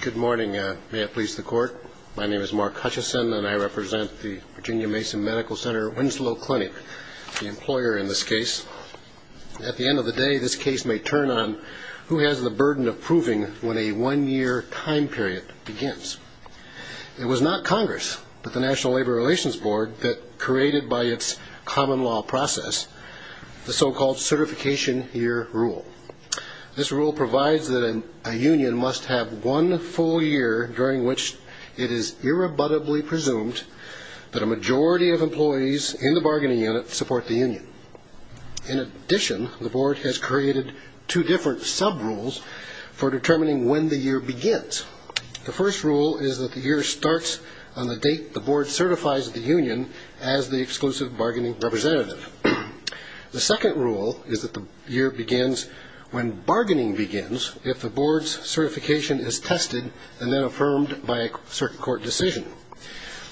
Good morning. May it please the court. My name is Mark Hutchison and I represent the Virginia Mason Medical Center Winslow Clinic, the employer in this case. At the end of the day, this case may turn on who has the burden of proving when a one-year time period begins. It was not Congress but the National Labor Relations Board that created by its common law process the so-called certification year rule. This rule provides that a union must have one full year during which it is irrebuttably presumed that a majority of employees in the bargaining unit support the union. In addition, the board has created two different sub-rules for determining when the year begins. The first rule is that the year starts on the date the board certifies the union as the exclusive bargaining representative. The second rule is that the year begins when bargaining begins if the board's certification is tested and then affirmed by a circuit court decision.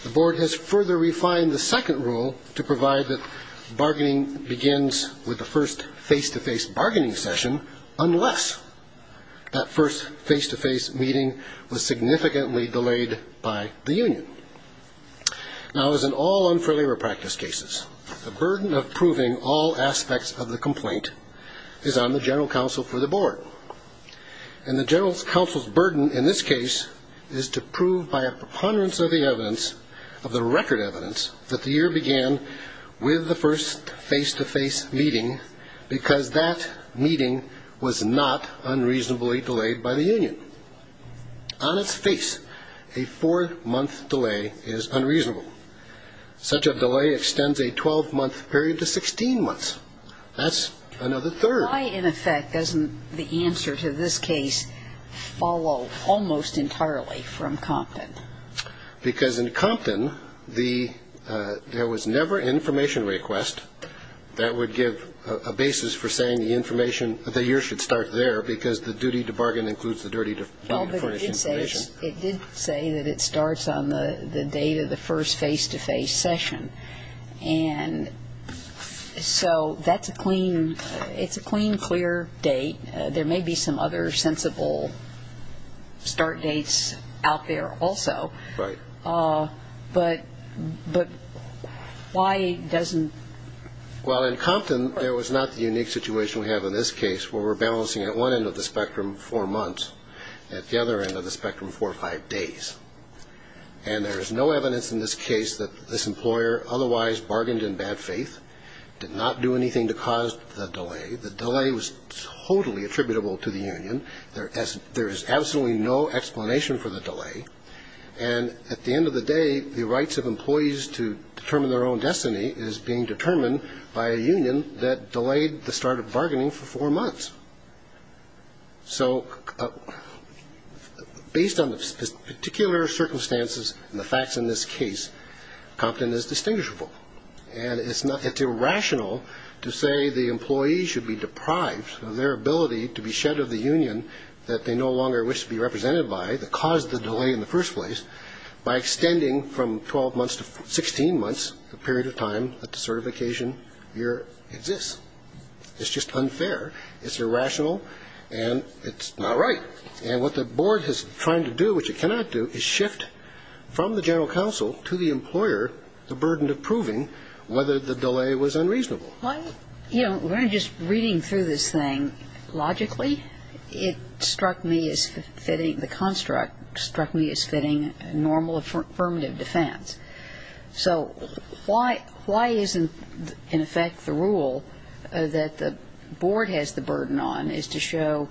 The board has further refined the second rule to provide that bargaining begins with the first face-to-face bargaining session unless that first face-to-face meeting was significantly delayed by the union. Now, as in all unfair labor practice cases, the burden of proving all aspects of the complaint is on the general counsel for the board. And the general counsel's burden in this case is to prove by a preponderance of the evidence, of the record evidence, that the year began with the first face-to-face meeting because that meeting was not unreasonably delayed by the union. On its face, a four-month delay is unreasonable. Such a delay extends a 12-month period to 16 months. That's another third. Why, in effect, doesn't the answer to this case follow almost entirely from Compton? Because in Compton, there was never an information request that would give a basis for saying the information, the year should start there because the duty to bargain includes the duty to furnish information. It did say that it starts on the date of the first face-to-face session. And so that's a clean, it's a clean, clear date. There may be some other sensible start dates out there also. Right. But why doesn't? Well, in Compton, there was not the unique situation we have in this case where we're balancing, at one end of the spectrum, four months, at the other end of the spectrum, four or five days. And there is no evidence in this case that this employer otherwise bargained in bad faith, did not do anything to cause the delay. The delay was totally attributable to the union. There is absolutely no explanation for the delay. And at the end of the day, the rights of employees to determine their own destiny is being determined by a union that delayed the start of bargaining for four months. So based on the particular circumstances and the facts in this case, Compton is distinguishable. And it's irrational to say the employee should be deprived of their ability to be shed of the union that they no longer wish to be represented by that caused the delay in the first place by extending from 12 months to 16 months the period of time that the certification year exists. It's just unfair. It's irrational. And it's not right. And what the board is trying to do, which it cannot do, is shift from the general counsel to the employer the burden of proving whether the delay was unreasonable. You know, when I'm just reading through this thing, logically, it struck me as fitting, the construct struck me as fitting normal affirmative defense. So why isn't, in effect, the rule that the board has the burden on is to show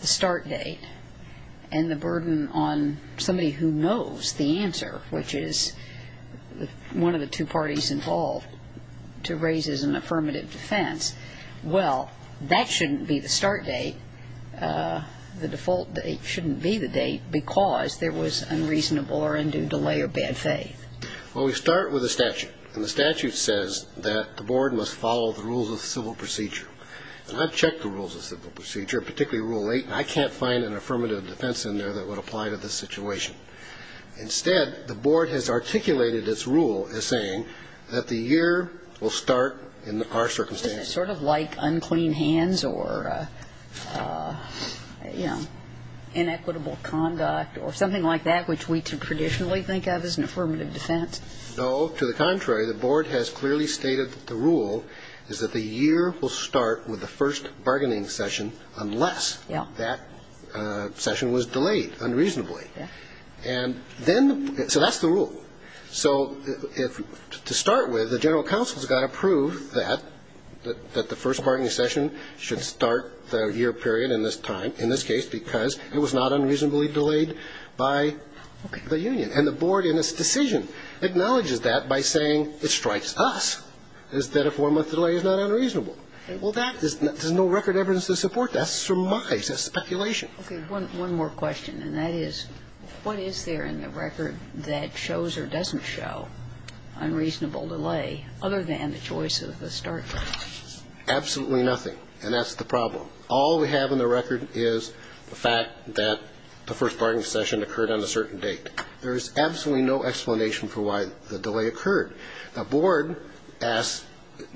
the start date and the burden on somebody who knows the answer, which is one of the two parties involved, to raise as an affirmative defense. Well, that shouldn't be the start date. The default date shouldn't be the date because there was unreasonable or undue delay or bad faith. Well, we start with a statute. And the statute says that the board must follow the rules of civil procedure. And I've checked the rules of civil procedure, particularly Rule 8, and I can't find an affirmative defense in there that would apply to this situation. Instead, the board has articulated its rule as saying that the year will start in our circumstances. Isn't it sort of like unclean hands or, you know, inequitable conduct or something like that which we traditionally think of as an affirmative defense? No. To the contrary, the board has clearly stated that the rule is that the year will start with the first bargaining session unless that session was delayed unreasonably. And then the – so that's the rule. So if – to start with, the general counsel has got to prove that, that the first bargaining session should start the year period in this time, in this case, because it was not unreasonably delayed by the union. And the board in its decision acknowledges that by saying it strikes us, that a four-month delay is not unreasonable. Well, that is – there's no record evidence to support that. That surmises speculation. Okay. One more question, and that is, what is there in the record that shows or doesn't show unreasonable delay other than the choice of the start date? Absolutely nothing. And that's the problem. All we have in the record is the fact that the first bargaining session occurred on a certain date. There is absolutely no explanation for why the delay occurred. The board asks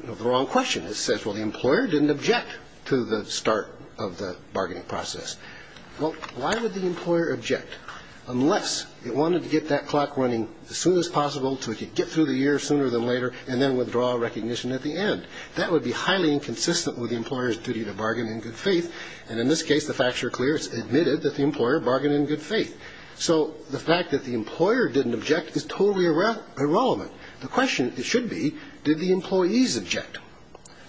the wrong question. It says, well, the employer didn't object to the start of the bargaining process. Well, why would the employer object unless it wanted to get that clock running as soon as possible so it could get through the year sooner than later and then withdraw recognition at the end? That would be highly inconsistent with the employer's duty to bargain in good faith. And in this case, the facts are clear. It's admitted that the employer bargained in good faith. So the fact that the employer didn't object is totally irrelevant. The question, it should be, did the employees object?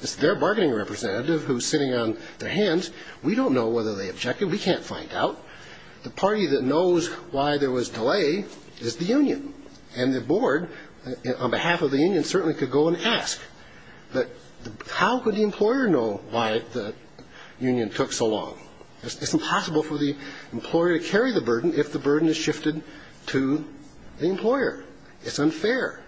It's their bargaining representative who's sitting on their hands. We don't know whether they objected. We can't find out. The party that knows why there was delay is the union. And the board, on behalf of the union, certainly could go and ask. But how could the employer know why the union took so long? It's impossible for the employer to carry the burden if the burden is shifted to the employer. It's unfair.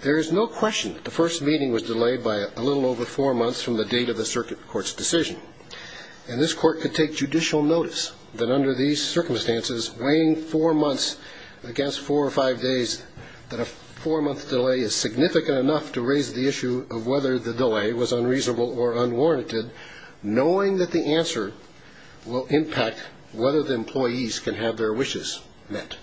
There is no question that the first meeting was delayed by a little over four months from the date of the circuit court's decision. And this court could take judicial notice that under these circumstances, weighing four months against four or five days, that a four-month delay is significant enough to raise the issue of whether the delay was unreasonable or unwarranted. Knowing that the answer will impact whether the employees can have their wishes met.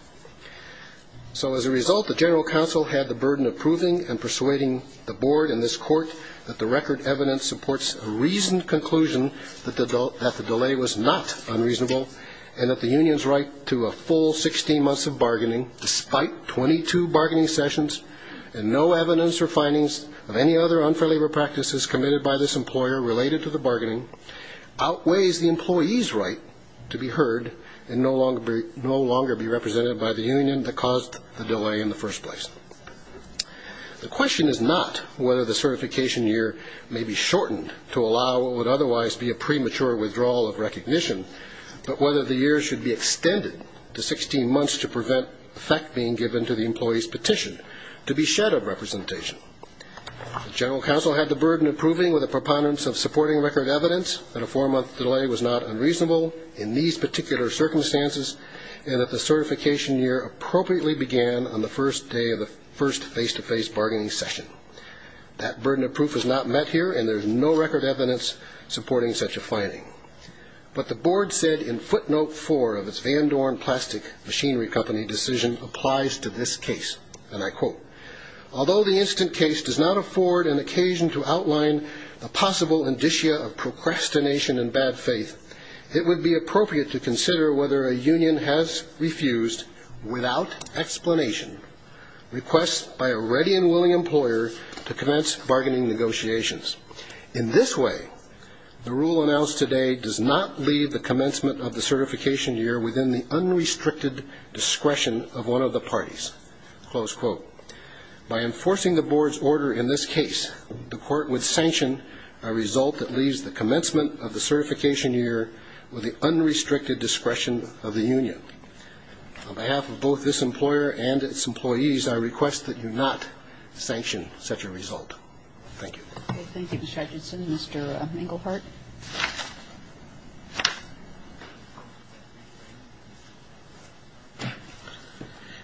So as a result, the general counsel had the burden of proving and persuading the board and this court that the record evidence supports a reasoned conclusion that the delay was not unreasonable and that the union's right to a full 16 months of bargaining, despite 22 bargaining sessions and no evidence or findings of any other unfavorable practices committed by this employer related to the bargaining, outweighs the employee's right to be heard and no longer be represented by the union that caused the delay in the first place. The question is not whether the certification year may be shortened to allow what would otherwise be a premature withdrawal of recognition, but whether the year should be extended to 16 months to prevent effect being given to the employee's petition to be shed of representation. The general counsel had the burden of proving with a preponderance of supporting record evidence that a four-month delay was not unreasonable in these particular circumstances and that the certification year appropriately began on the first day of the first face-to-face bargaining session. That burden of proof is not met here and there is no record evidence supporting such a finding. But the board said in footnote four of its Van Dorn Plastic Machinery Company decision applies to this case, and I quote, although the instant case does not afford an occasion to outline a possible indicia of procrastination and bad faith, it would be appropriate to consider whether a union has refused, without explanation, requests by a ready and willing employer to commence bargaining negotiations. In this way, the rule announced today does not leave the commencement of the certification year within the unrestricted discretion of one of the parties. Close quote. By enforcing the board's order in this case, the court would sanction a result that leaves the commencement of the certification year with the unrestricted discretion of the union. On behalf of both this employer and its employees, I request that you not sanction such a result. Thank you. Thank you, Mr. Hutchinson. Mr. Engelhardt.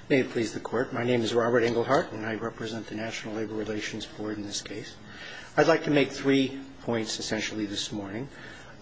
May it please the Court. My name is Robert Engelhardt, and I represent the National Labor Relations Board in this case. I'd like to make three points essentially this morning.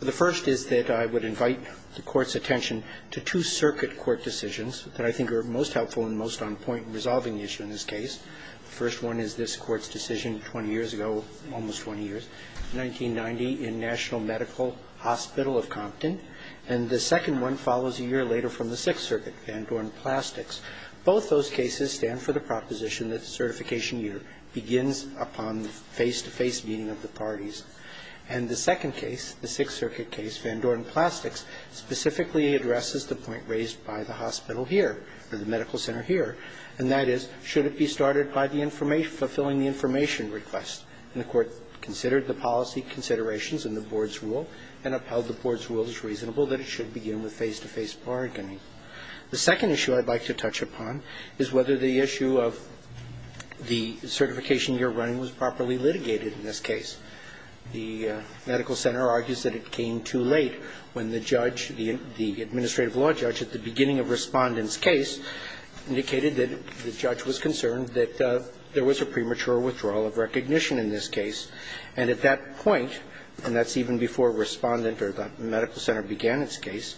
The first is that I would invite the Court's attention to two circuit court decisions that I think are most helpful and most on point in resolving the issue in this case. The first one is this Court's decision 20 years ago, almost 20 years, 1990 in National Medical Hospital of Compton. And the second one follows a year later from the Sixth Circuit, Van Dorn Plastics. Both those cases stand for the proposition that the certification year begins upon the face-to-face meeting of the parties. And the second case, the Sixth Circuit case, Van Dorn Plastics, specifically addresses the point raised by the hospital here, or the medical center here, and that is should it be started by the information, fulfilling the information request. And the Court considered the policy considerations in the board's rule and upheld the board's rule as reasonable that it should begin with face-to-face bargaining. The second issue I'd like to touch upon is whether the issue of the certification year running was properly litigated in this case. The medical center argues that it came too late when the judge, the administrative law judge, at the beginning of Respondent's case indicated that the judge was concerned that there was a premature withdrawal of recognition in this case. And at that point, and that's even before Respondent or the medical center began its case,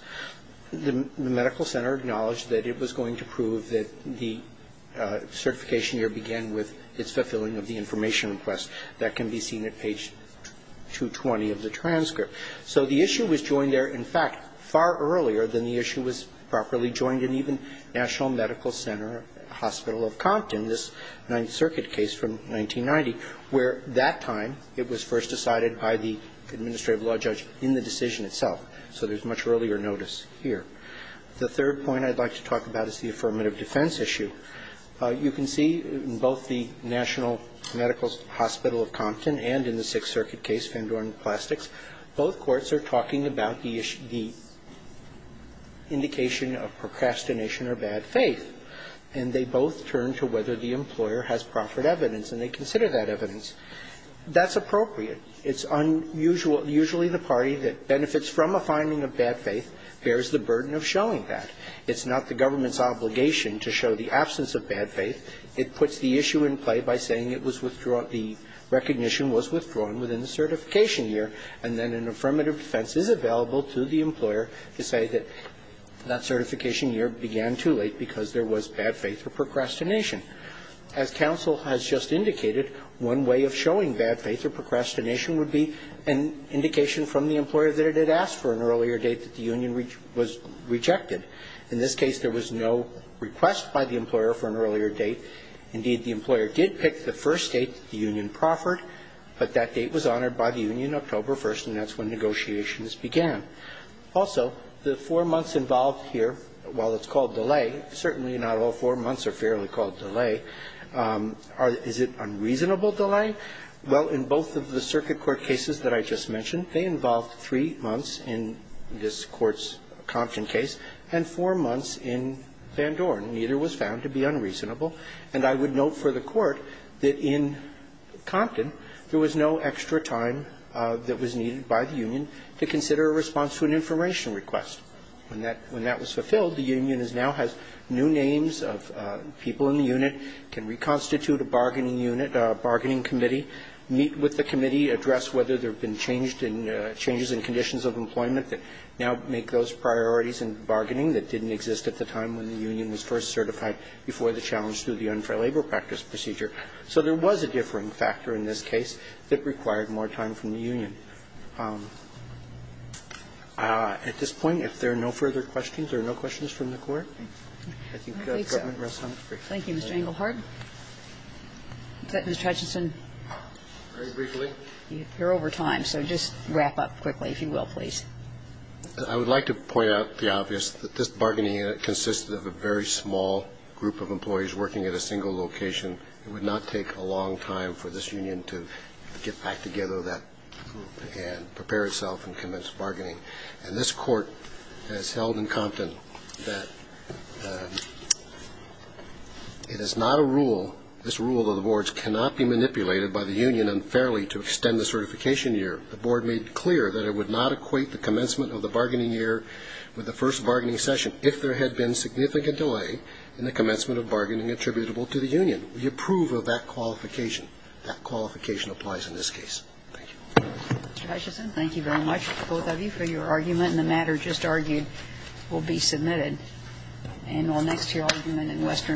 the medical center acknowledged that it was going to prove that the certification year began with its fulfilling of the information request. That can be seen at page 220 of the transcript. So the issue was joined there, in fact, far earlier than the issue was properly joined in even National Medical Center Hospital of Compton, this Ninth Circuit case from 1990, where that time it was first decided by the administrative law judge in the decision itself. So there's much earlier notice here. The third point I'd like to talk about is the affirmative defense issue. You can see in both the National Medical Hospital of Compton and in the Sixth both courts are talking about the indication of procrastination or bad faith, and they both turn to whether the employer has proffered evidence, and they consider that evidence. That's appropriate. It's unusual. Usually the party that benefits from a finding of bad faith bears the burden of showing that. It's not the government's obligation to show the absence of bad faith. It puts the issue in play by saying it was withdrawn, the recognition was withdrawn within the certification year, and then an affirmative defense is available to the employer to say that that certification year began too late because there was bad faith or procrastination. As counsel has just indicated, one way of showing bad faith or procrastination would be an indication from the employer that it had asked for an earlier date that the union was rejected. In this case, there was no request by the employer for an earlier date. Indeed, the employer did pick the first date that the union proffered, but that date was honored by the union October 1st, and that's when negotiations began. Also, the four months involved here, while it's called delay, certainly not all four months are fairly called delay. Is it unreasonable delay? Well, in both of the circuit court cases that I just mentioned, they involved three months in this Court's Compton case and four months in Vandoren. Neither was found to be unreasonable. And I would note for the Court that in Compton, there was no extra time that was needed by the union to consider a response to an information request. When that was fulfilled, the union now has new names of people in the unit, can reconstitute a bargaining unit, a bargaining committee, meet with the committee, address whether there have been changes in conditions of employment that now make those priorities in bargaining that didn't exist at the time when the union was first certified before the challenge to the unfair labor practice procedure. So there was a differing factor in this case that required more time from the union. At this point, if there are no further questions, there are no questions from the Court. I think the Court went real silent. Thank you, Mr. Engelhardt. Is that Mr. Hutchinson? Very briefly. You're over time, so just wrap up quickly, if you will, please. I would like to point out the obvious, that this bargaining unit consisted of a very small group of employees working at a single location. It would not take a long time for this union to get back together, that group, and prepare itself and commence bargaining. And this Court has held in Compton that it is not a rule, this rule, that the boards cannot be manipulated by the union unfairly to extend the certification year. The board made clear that it would not equate the commencement of the bargaining year with the first bargaining session if there had been significant delay in the commencement of bargaining attributable to the union. We approve of that qualification. That qualification applies in this case. Thank you. Mr. Hutchinson, thank you very much, both of you, for your argument. And the matter just argued will be submitted. And next year I'll be doing western management.